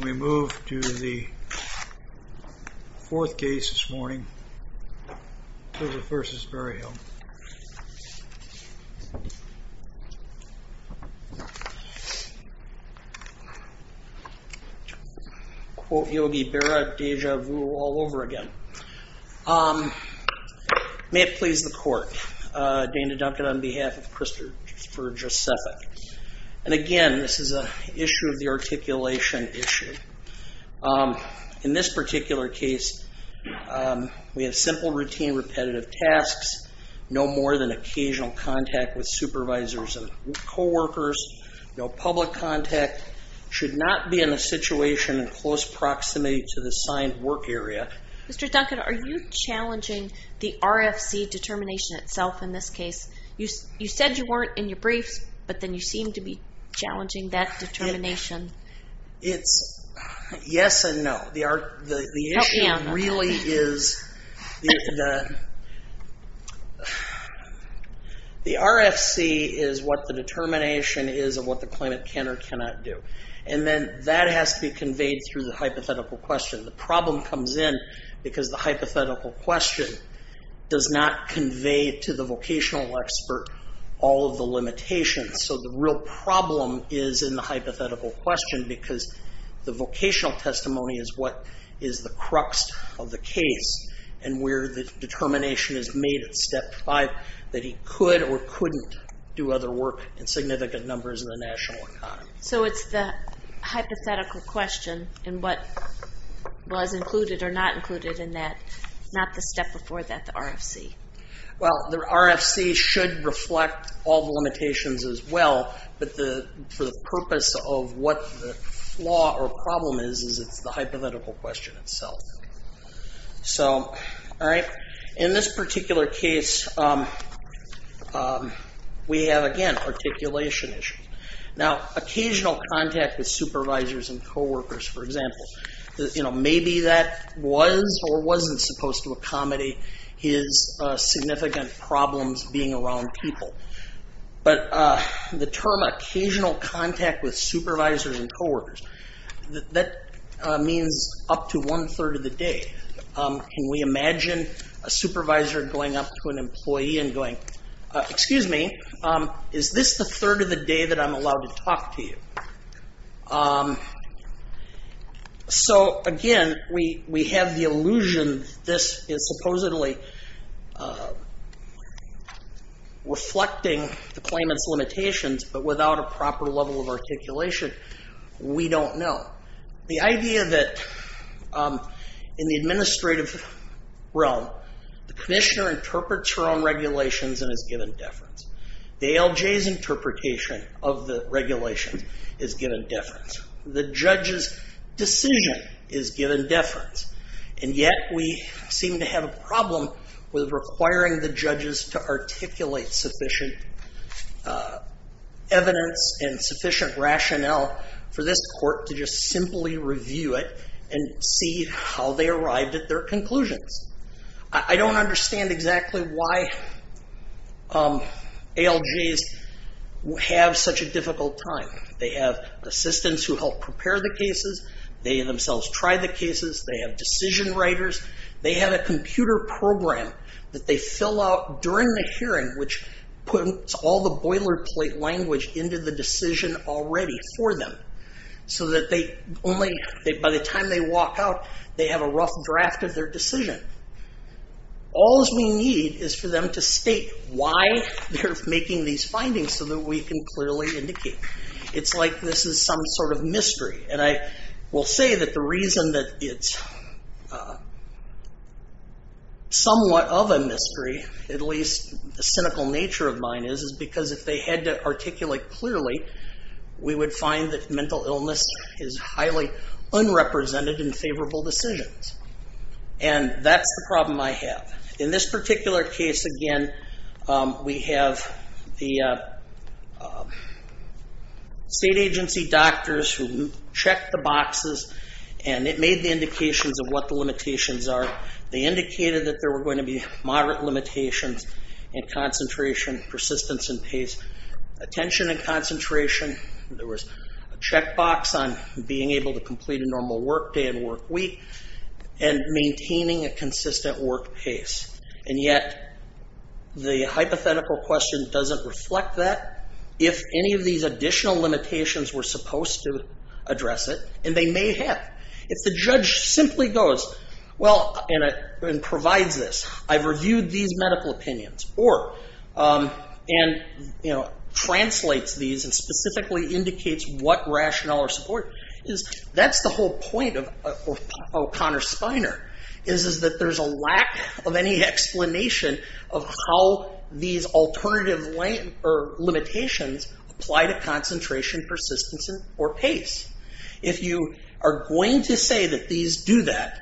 We move to the fourth case this morning, Jozef v. Berryhill. Quote Yogi Berra, déjà vu all over again. May it please the court, Dana Duncan on behalf of Christopher Jozefyk. And again, this is an issue of the articulation issue. In this particular case, we have simple routine repetitive tasks. No more than occasional contact with supervisors and coworkers. No public contact. Should not be in a situation in close proximity to the assigned work area. Mr. Duncan, are you challenging the RFC determination itself in this case? You said you weren't in your briefs, but then you seem to be challenging that determination. Yes and no. The RFC is what the determination is of what the claimant can or cannot do. And then that has to be conveyed through the hypothetical question. The problem comes in because the hypothetical question does not convey to the vocational expert all of the limitations. So the real problem is in the hypothetical question because the vocational testimony is what is the crux of the case. And where the determination is made at step five that he could or couldn't do other work in significant numbers in the national economy. So it's the hypothetical question and what was included or not included in that. Not the step before that, the RFC. Well, the RFC should reflect all the limitations as well. But for the purpose of what the flaw or problem is, it's the hypothetical question itself. In this particular case, we have, again, articulation issues. Now, occasional contact with supervisors and coworkers, for example. Maybe that was or wasn't supposed to accommodate his significant problems being around people. But the term occasional contact with supervisors and coworkers, that means up to one third of the day. Can we imagine a supervisor going up to an employee and going, excuse me, is this the third of the day that I'm allowed to talk to you? So again, we have the illusion this is supposedly reflecting the claimant's limitations. But without a proper level of articulation, we don't know. The idea that in the administrative realm, the commissioner interprets her own regulations and is given deference. The ALJ's interpretation of the regulations is given deference. The judge's decision is given deference. And yet we seem to have a problem with requiring the judges to articulate sufficient evidence and sufficient rationale for this court to just simply review it and see how they arrived at their conclusions. I don't understand exactly why ALJs have such a difficult time. They have assistants who help prepare the cases. They themselves try the cases. They have decision writers. They have a computer program that they fill out during the hearing, which puts all the boilerplate language into the decision already for them. So that by the time they walk out, they have a rough draft of their decision. All we need is for them to state why they're making these findings so that we can clearly indicate. It's like this is some sort of mystery. And I will say that the reason that it's somewhat of a mystery, at least the cynical nature of mine is, is because if they had to articulate clearly, we would find that mental illness is highly unrepresented in favorable decisions. And that's the problem I have. In this particular case, again, we have the state agency doctors who checked the boxes, and it made the indications of what the limitations are. They indicated that there were going to be moderate limitations in concentration, persistence, and pace, attention and concentration. There was a checkbox on being able to complete a normal work day and work week and maintaining a consistent work pace. And yet the hypothetical question doesn't reflect that. If any of these additional limitations were supposed to address it, and they may have, if the judge simply goes, well, and provides this, I've reviewed these medical opinions, or translates these and specifically indicates what rationale or support, that's the whole point of O'Connor-Spiner, is that there's a lack of any explanation of how these alternative limitations apply to concentration, persistence, or pace. If you are going to say that these do that,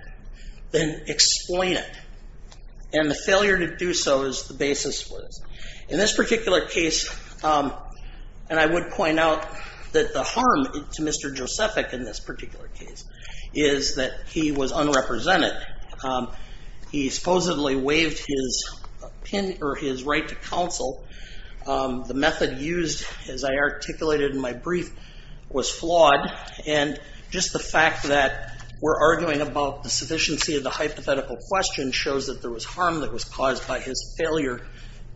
then explain it. And the failure to do so is the basis for this. In this particular case, and I would point out that the harm to Mr. Josephic in this particular case, is that he was unrepresented. He supposedly waived his right to counsel. The method used, as I articulated in my brief, was flawed. And just the fact that we're arguing about the sufficiency of the hypothetical question shows that there was harm that was caused by his failure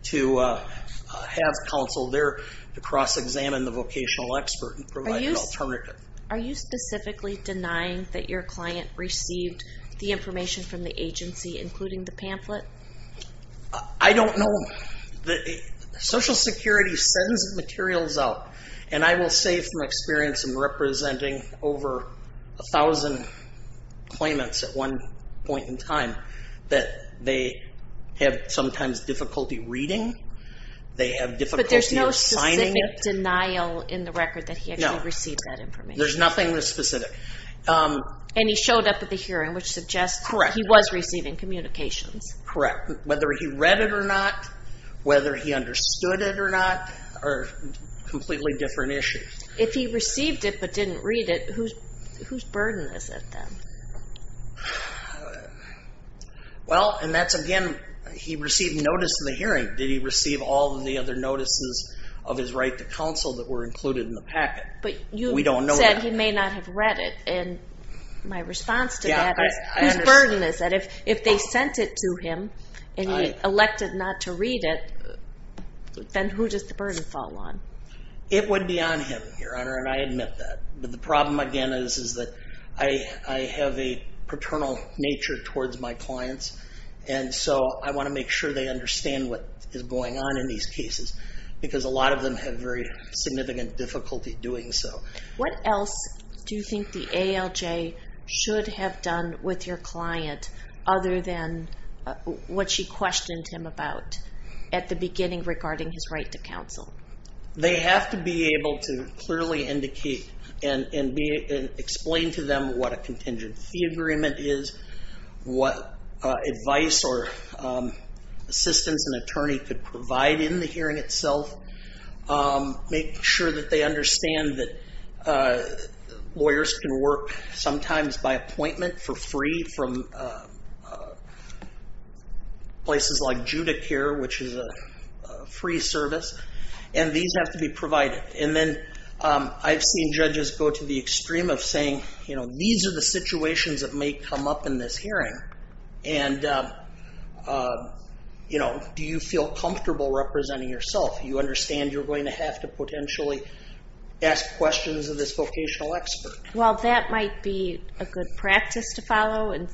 to have counsel there to cross-examine the vocational expert and provide an alternative. Are you specifically denying that your client received the information from the agency, including the pamphlet? I don't know. Social Security sends materials out, and I will say from experience in representing over 1,000 claimants at one point in time, that they have sometimes difficulty reading. They have difficulty assigning it. But there's no specific denial in the record that he actually received that information? No. There's nothing that's specific. And he showed up at the hearing, which suggests he was receiving communications. Correct. Whether he read it or not, whether he understood it or not, are completely different issues. If he received it but didn't read it, whose burden is it then? Well, and that's again, he received notice in the hearing. Did he receive all of the other notices of his right to counsel that were included in the packet? But you said he may not have read it. And my response to that is, whose burden is it? If they sent it to him and he elected not to read it, then who does the burden fall on? It would be on him, Your Honor, and I admit that. But the problem again is that I have a paternal nature towards my clients, and so I want to make sure they understand what is going on in these cases, because a lot of them have very significant difficulty doing so. What else do you think the ALJ should have done with your client other than what she questioned him about at the beginning regarding his right to counsel? They have to be able to clearly indicate and explain to them what a contingency agreement is, what advice or assistance an attorney could provide in the hearing itself, make sure that they understand that lawyers can work sometimes by appointment for free from places like Judicare, which is a free service, and these have to be provided. And then I've seen judges go to the extreme of saying, these are the situations that may come up in this hearing, and do you feel comfortable representing yourself? Do you understand you're going to have to potentially ask questions of this vocational expert? Well, that might be a good practice to follow and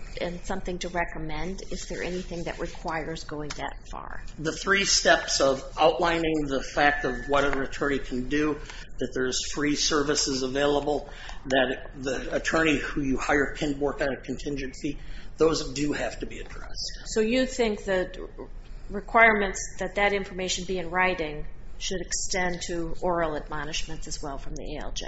something to recommend. Is there anything that requires going that far? The three steps of outlining the fact of what an attorney can do, that there's free services available, that the attorney who you hire can work on a contingency, those do have to be addressed. So you think the requirements that that information be in writing should extend to oral admonishments as well from the ALJ?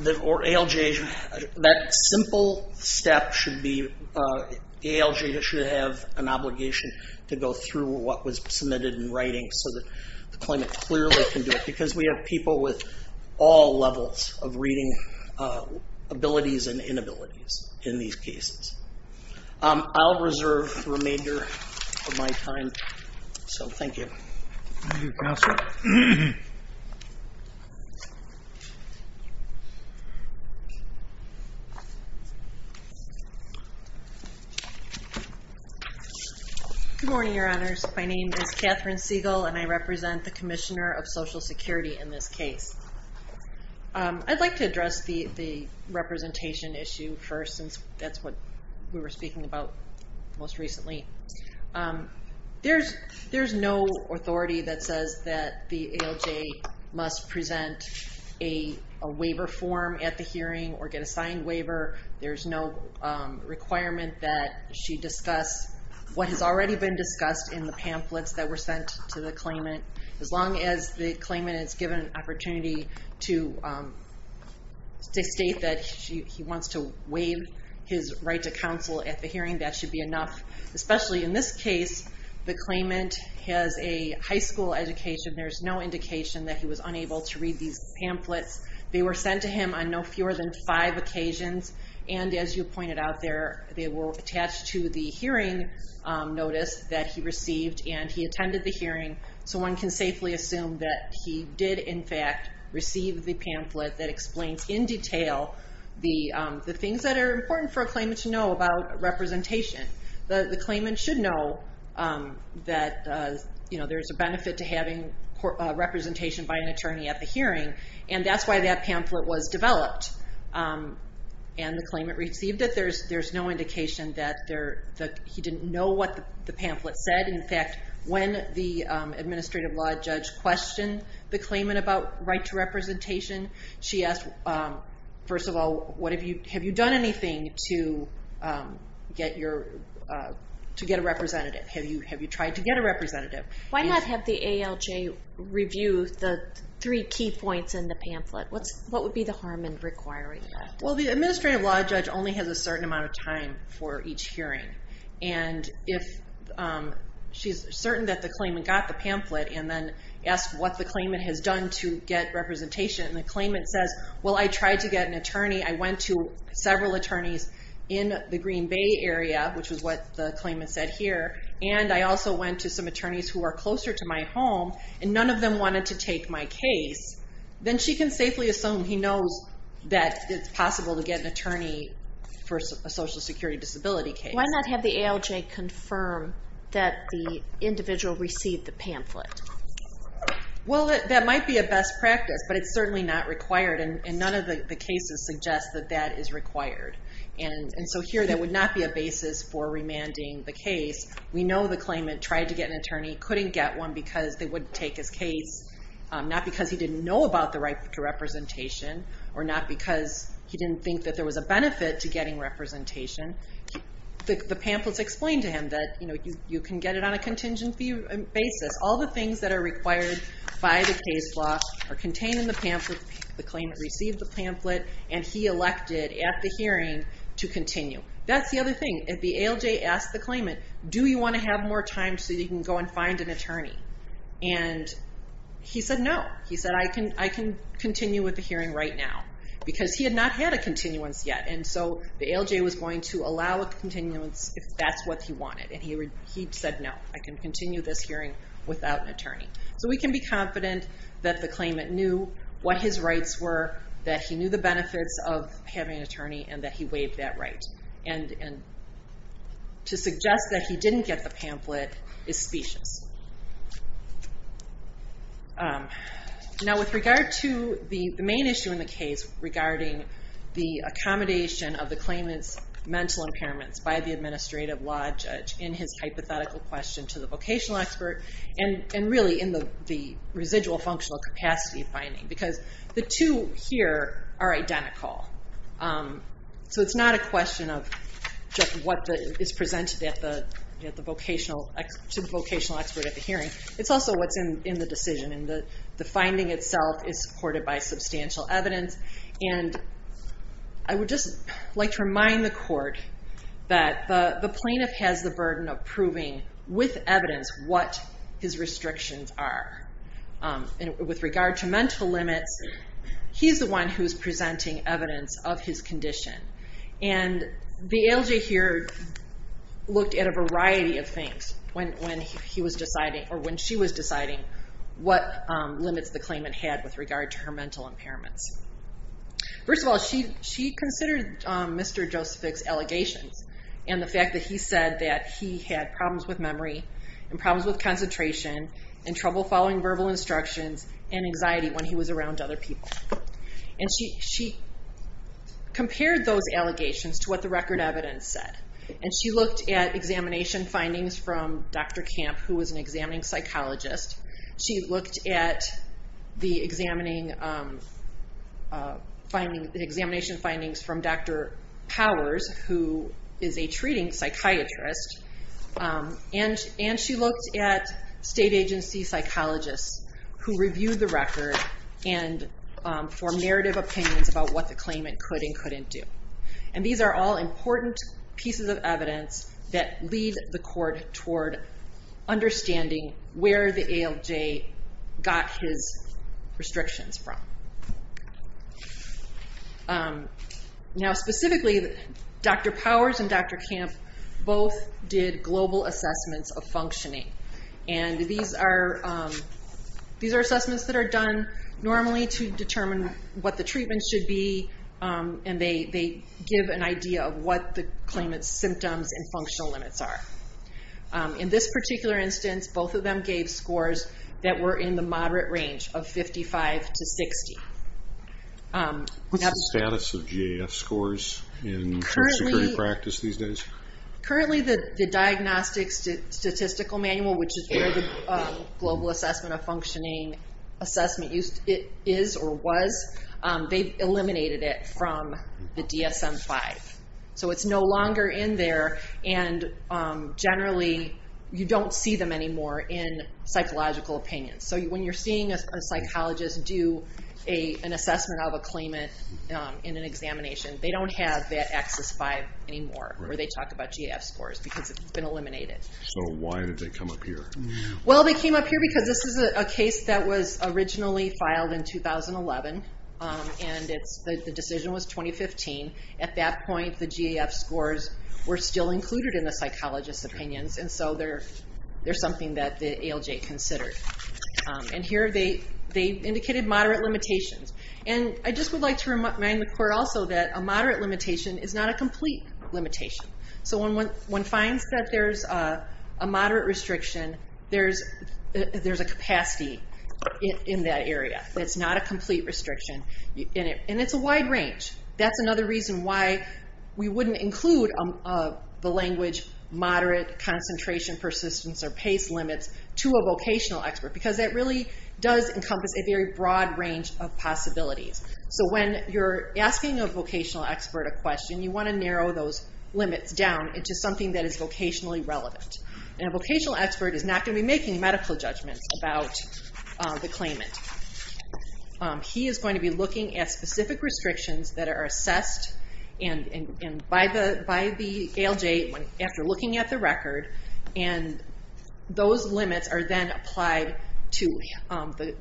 The ALJ, that simple step should be, the ALJ should have an obligation to go through what was submitted in writing so that the claimant clearly can do it, because we have people with all levels of reading abilities and inabilities in these cases. I'll reserve the remainder of my time, so thank you. Thank you, Counselor. Good morning, Your Honors. My name is Catherine Siegel, and I represent the Commissioner of Social Security in this case. I'd like to address the representation issue first, since that's what we were speaking about most recently. There's no authority that says that the ALJ must present a waiver form at the hearing or get a signed waiver. There's no requirement that she discuss what has already been discussed in the pamphlets that were sent to the claimant. As long as the claimant is given an opportunity to state that he wants to waive his right to counsel at the hearing, that should be enough. Especially in this case, the claimant has a high school education. There's no indication that he was unable to read these pamphlets. They were sent to him on no fewer than five occasions, and as you pointed out, they were attached to the hearing notice that he received, and he attended the hearing. So one can safely assume that he did, in fact, receive the pamphlet that explains in detail the things that are important for a claimant to know about representation. The claimant should know that there's a benefit to having representation by an attorney at the hearing, and that's why that pamphlet was developed. And the claimant received it. There's no indication that he didn't know what the pamphlet said. In fact, when the administrative law judge questioned the claimant about right to representation, she asked, first of all, have you done anything to get a representative? Have you tried to get a representative? Why not have the ALJ review the three key points in the pamphlet? What would be the harm in requiring that? Well, the administrative law judge only has a certain amount of time for each hearing. And if she's certain that the claimant got the pamphlet and then asked what the claimant has done to get representation, and the claimant says, well, I tried to get an attorney, I went to several attorneys in the Green Bay area, which is what the claimant said here, and I also went to some attorneys who are closer to my home, and none of them wanted to take my case, then she can safely assume he knows that it's possible to get an attorney for a Social Security disability case. Why not have the ALJ confirm that the individual received the pamphlet? Well, that might be a best practice, but it's certainly not required, and none of the cases suggest that that is required. And so here there would not be a basis for remanding the case. We know the claimant tried to get an attorney, couldn't get one because they wouldn't take his case, not because he didn't know about the right to representation or not because he didn't think that there was a benefit to getting representation. The pamphlets explain to him that you can get it on a contingency basis. All the things that are required by the case law are contained in the pamphlet. The claimant received the pamphlet, and he elected at the hearing to continue. That's the other thing. If the ALJ asks the claimant, do you want to have more time so you can go and find an attorney? And he said no. He said, I can continue with the hearing right now, because he had not had a continuance yet, and so the ALJ was going to allow a continuance if that's what he wanted, and he said no, I can continue this hearing without an attorney. So we can be confident that the claimant knew what his rights were, that he knew the benefits of having an attorney, and that he waived that right. To suggest that he didn't get the pamphlet is specious. Now with regard to the main issue in the case regarding the accommodation of the claimant's mental impairments by the administrative law judge in his hypothetical question to the vocational expert, and really in the residual functional capacity finding, because the two here are identical. So it's not a question of what is presented to the vocational expert at the hearing. It's also what's in the decision, and the finding itself is supported by substantial evidence. And I would just like to remind the court that the plaintiff has the burden of proving with evidence what his restrictions are. And with regard to mental limits, he's the one who's presenting evidence of his condition. And the ALJ here looked at a variety of things when she was deciding what limits the claimant had with regard to her mental impairments. First of all, she considered Mr. Josephic's allegations, and the fact that he said that he had problems with memory, and problems with concentration, and trouble following verbal instructions, and anxiety when he was around other people. And she compared those allegations to what the record evidence said. And she looked at examination findings from Dr. Camp, who was an examining psychologist. She looked at the examination findings from Dr. Powers, who is a treating psychiatrist. And she looked at state agency psychologists who reviewed the record and formed narrative opinions about what the claimant could and couldn't do. And these are all important pieces of evidence that lead the court toward understanding where the ALJ got his restrictions from. Now specifically, Dr. Powers and Dr. Camp both did global assessments of functioning. And these are assessments that are done normally to determine what the treatment should be, and they give an idea of what the claimant's symptoms and functional limits are. In this particular instance, both of them gave scores that were in the moderate range of 55 to 60. What's the status of GAF scores in security practice these days? Currently, the Diagnostic Statistical Manual, which is where the Global Assessment of Functioning assessment is or was, they've eliminated it from the DSM-5. So it's no longer in there, and generally you don't see them anymore in psychological opinions. So when you're seeing a psychologist do an assessment of a claimant in an examination, they don't have that AXIS-5 anymore, or they talk about GAF scores because it's been eliminated. So why did they come up here? Well, they came up here because this is a case that was originally filed in 2011, and the decision was 2015. At that point, the GAF scores were still included in the psychologist's opinions, and so they're something that the ALJ considered. And here they indicated moderate limitations. And I just would like to remind the court also that a moderate limitation is not a complete limitation. So when one finds that there's a moderate restriction, there's a capacity in that area. It's not a complete restriction, and it's a wide range. That's another reason why we wouldn't include the language moderate, concentration, persistence, or pace limits to a vocational expert, because that really does encompass a very broad range of possibilities. So when you're asking a vocational expert a question, you want to narrow those limits down into something that is vocationally relevant. And a vocational expert is not going to be making medical judgments about the claimant. He is going to be looking at specific restrictions that are assessed by the ALJ after looking at the record, and those limits are then applied to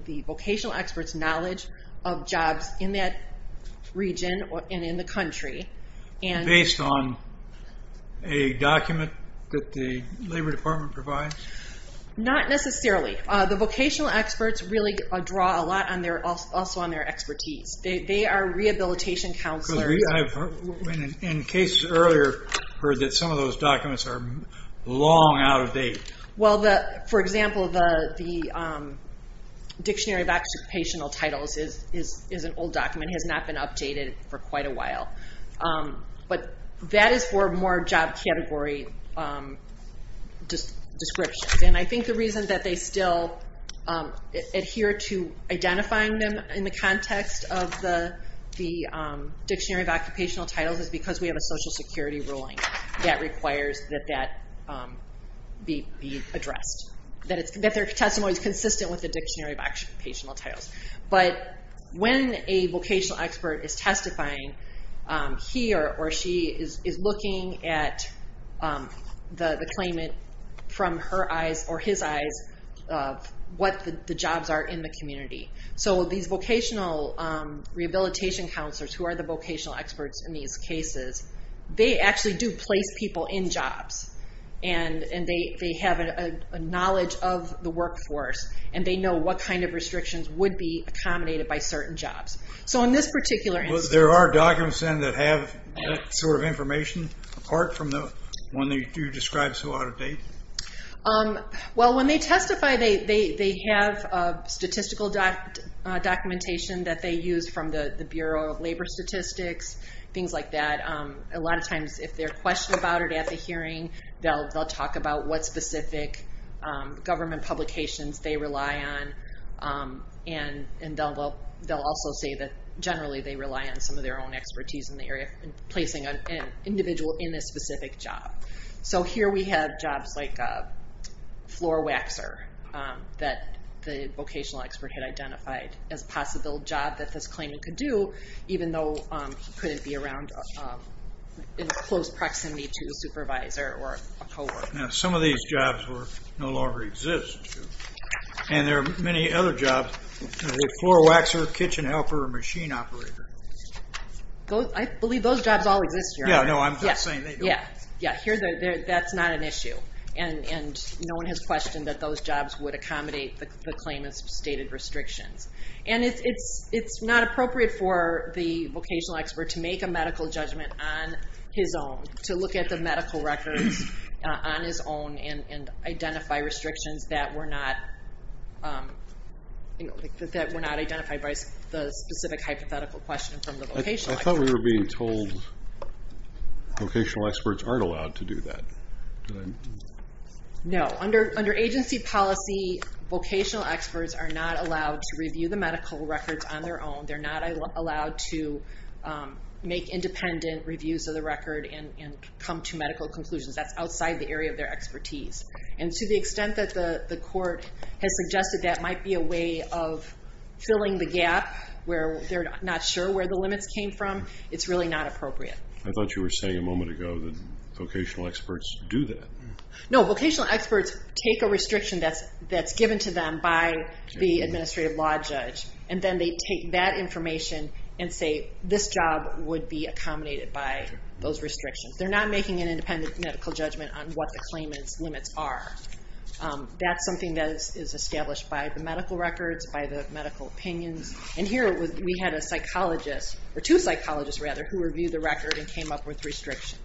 the vocational expert's knowledge of jobs in that region and in the country. Based on a document that the Labor Department provides? Not necessarily. The vocational experts really draw a lot also on their expertise. They are rehabilitation counselors. I've, in case earlier, heard that some of those documents are long out of date. Well, for example, the Dictionary of Occupational Titles is an old document. It has not been updated for quite a while. But that is for more job category descriptions. And I think the reason that they still adhere to identifying them in the context of the Dictionary of Occupational Titles is because we have a Social Security ruling that requires that that be addressed, that their testimony is consistent with the Dictionary of Occupational Titles. But when a vocational expert is testifying, he or she is looking at the claimant from her eyes or his eyes of what the jobs are in the community. So these vocational rehabilitation counselors, who are the vocational experts in these cases, they actually do place people in jobs, and they have a knowledge of the workforce, and they know what kind of restrictions would be accommodated by certain jobs. So in this particular instance... Well, there are documents then that have that sort of information, apart from the one that you described so out of date? Well, when they testify, they have statistical documentation that they use from the Bureau of Labor Statistics, things like that. A lot of times, if they're questioned about it at the hearing, they'll talk about what specific government publications they rely on, and they'll also say that generally they rely on some of their own expertise in the area of placing an individual in a specific job. So here we have jobs like floor waxer that the vocational expert had identified as a possible job that this claimant could do, even though he couldn't be around in close proximity to a supervisor or a co-worker. Now, some of these jobs no longer exist, and there are many other jobs, like floor waxer, kitchen helper, machine operator. I believe those jobs all exist here. Yeah, no, I'm just saying they don't. Yeah, that's not an issue, and no one has questioned that those jobs would accommodate the claimant's stated restrictions. And it's not appropriate for the vocational expert to make a medical judgment on his own, to look at the medical records on his own and identify restrictions that were not identified by the specific hypothetical question from the vocational expert. I thought we were being told vocational experts aren't allowed to do that. No. Under agency policy, vocational experts are not allowed to review the medical records on their own. They're not allowed to make independent reviews of the record and come to medical conclusions. That's outside the area of their expertise. And to the extent that the court has suggested that might be a way of filling the gap where they're not sure where the limits came from, it's really not appropriate. I thought you were saying a moment ago that vocational experts do that. No, vocational experts take a restriction that's given to them by the administrative law judge, and then they take that information and say this job would be accommodated by those restrictions. They're not making an independent medical judgment on what the claimant's limits are. That's something that is established by the medical records, by the medical opinions. And here we had two psychologists who reviewed the record and came up with restrictions.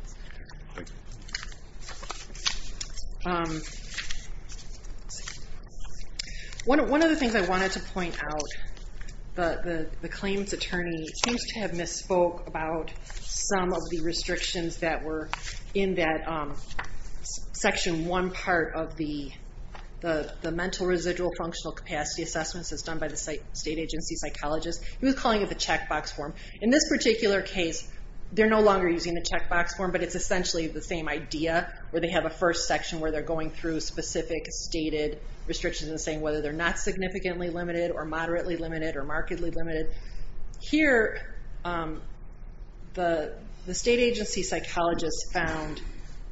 One of the things I wanted to point out, the claimant's attorney seems to have misspoke about some of the restrictions that were in that Section 1 part of the mental residual functional capacity assessments that's done by the state agency psychologist. He was calling it the checkbox form. In this particular case, they're no longer using the checkbox form, but it's essentially the same idea where they have a first section where they're going through specific stated restrictions or moderately limited or markedly limited. Here, the state agency psychologist found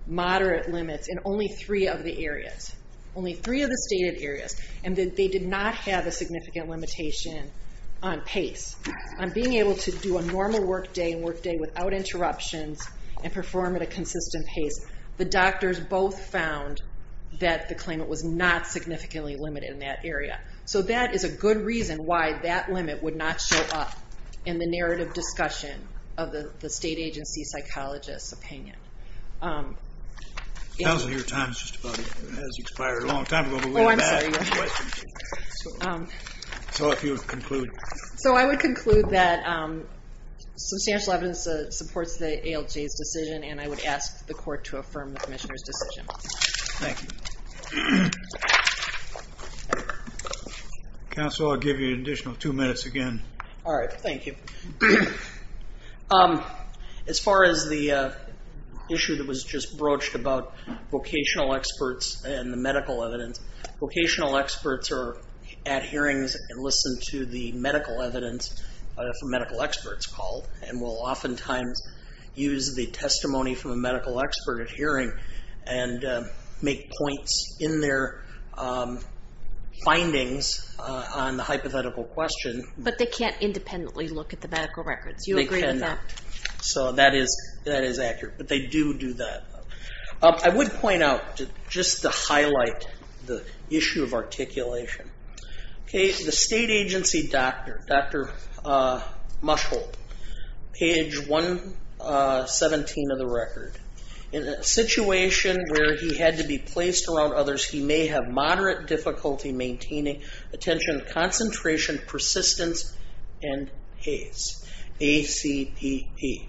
moderate limits in only three of the areas, only three of the stated areas, and that they did not have a significant limitation on pace. On being able to do a normal workday and workday without interruptions and perform at a consistent pace, the doctors both found that the claimant was not significantly limited in that area. That is a good reason why that limit would not show up in the narrative discussion of the state agency psychologist's opinion. I would conclude that substantial evidence supports the ALJ's decision, and I would ask the court to affirm the commissioner's decision. Counsel, I'll give you an additional two minutes again. All right. Thank you. As far as the issue that was just broached about vocational experts and the medical evidence, vocational experts are at hearings and listen to the medical evidence from medical experts called and will oftentimes use the testimony from a medical expert at hearing and make points in their findings on the hypothetical question. But they can't independently look at the medical records. You agree with that? That is accurate, but they do do that. I would point out, just to highlight the issue of articulation, the state agency doctor, Dr. Muschel, page 117 of the record, in a situation where he had to be placed around others, he may have moderate difficulty maintaining attention, concentration, persistence, and pace, A-C-P-E.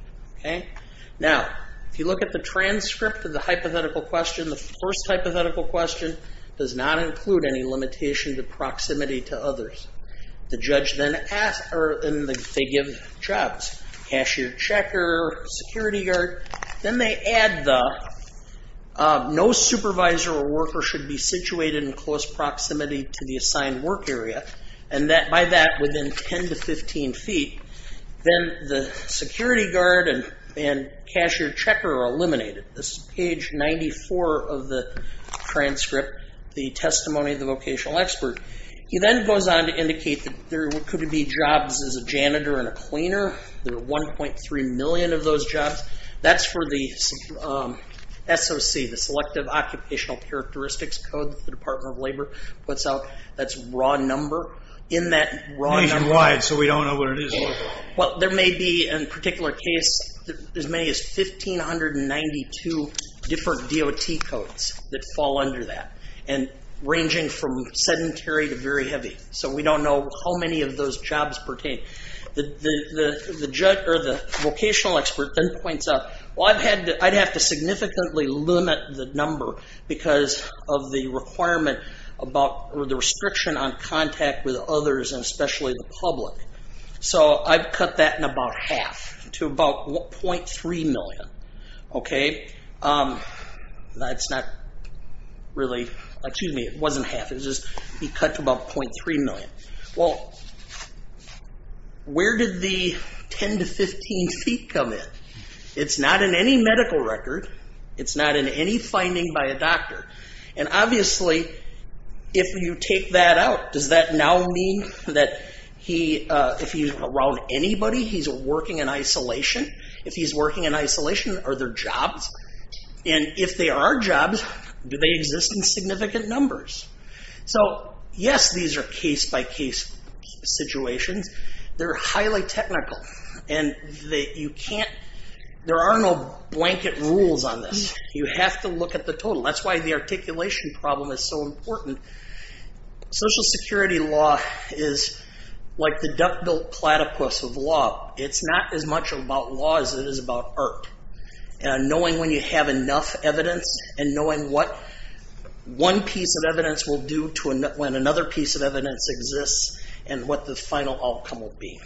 Now, if you look at the transcript of the hypothetical question, the first hypothetical question does not include any limitation to proximity to others. The judge then asks, or they give jobs, cashier, checker, security guard. Then they add the no supervisor or worker should be situated in close proximity to the assigned work area, and by that within 10 to 15 feet. Then the security guard and cashier checker are eliminated. This is page 94 of the transcript, the testimony of the vocational expert. He then goes on to indicate that there could be jobs as a janitor and a cleaner. There are 1.3 million of those jobs. That's for the SOC, the Selective Occupational Characteristics Code that the Department of Labor puts out. That's raw number. In that raw number. Page and wide, so we don't know what it is. Well, there may be, in a particular case, as many as 1,592 different DOT codes that fall under that, ranging from sedentary to very heavy. So we don't know how many of those jobs pertain. The vocational expert then points out, well, I'd have to significantly limit the number because of the requirement about the restriction on contact with others and especially the public. So I've cut that in about half to about 0.3 million. Excuse me, it wasn't half. He cut to about 0.3 million. Well, where did the 10 to 15 feet come in? It's not in any medical record. It's not in any finding by a doctor. And obviously, if you take that out, does that now mean that if he's around anybody, he's working in isolation? If he's working in isolation, are there jobs? And if there are jobs, do they exist in significant numbers? So, yes, these are case-by-case situations. They're highly technical. And there are no blanket rules on this. You have to look at the total. That's why the articulation problem is so important. Social security law is like the duck-billed platypus of law. It's not as much about law as it is about art. Knowing when you have enough evidence and knowing what one piece of evidence will do when another piece of evidence exists and what the final outcome will be.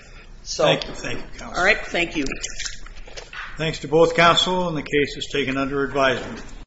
Thank you, counsel. All right, thank you. Thanks to both counsel, and the case is taken under advisement.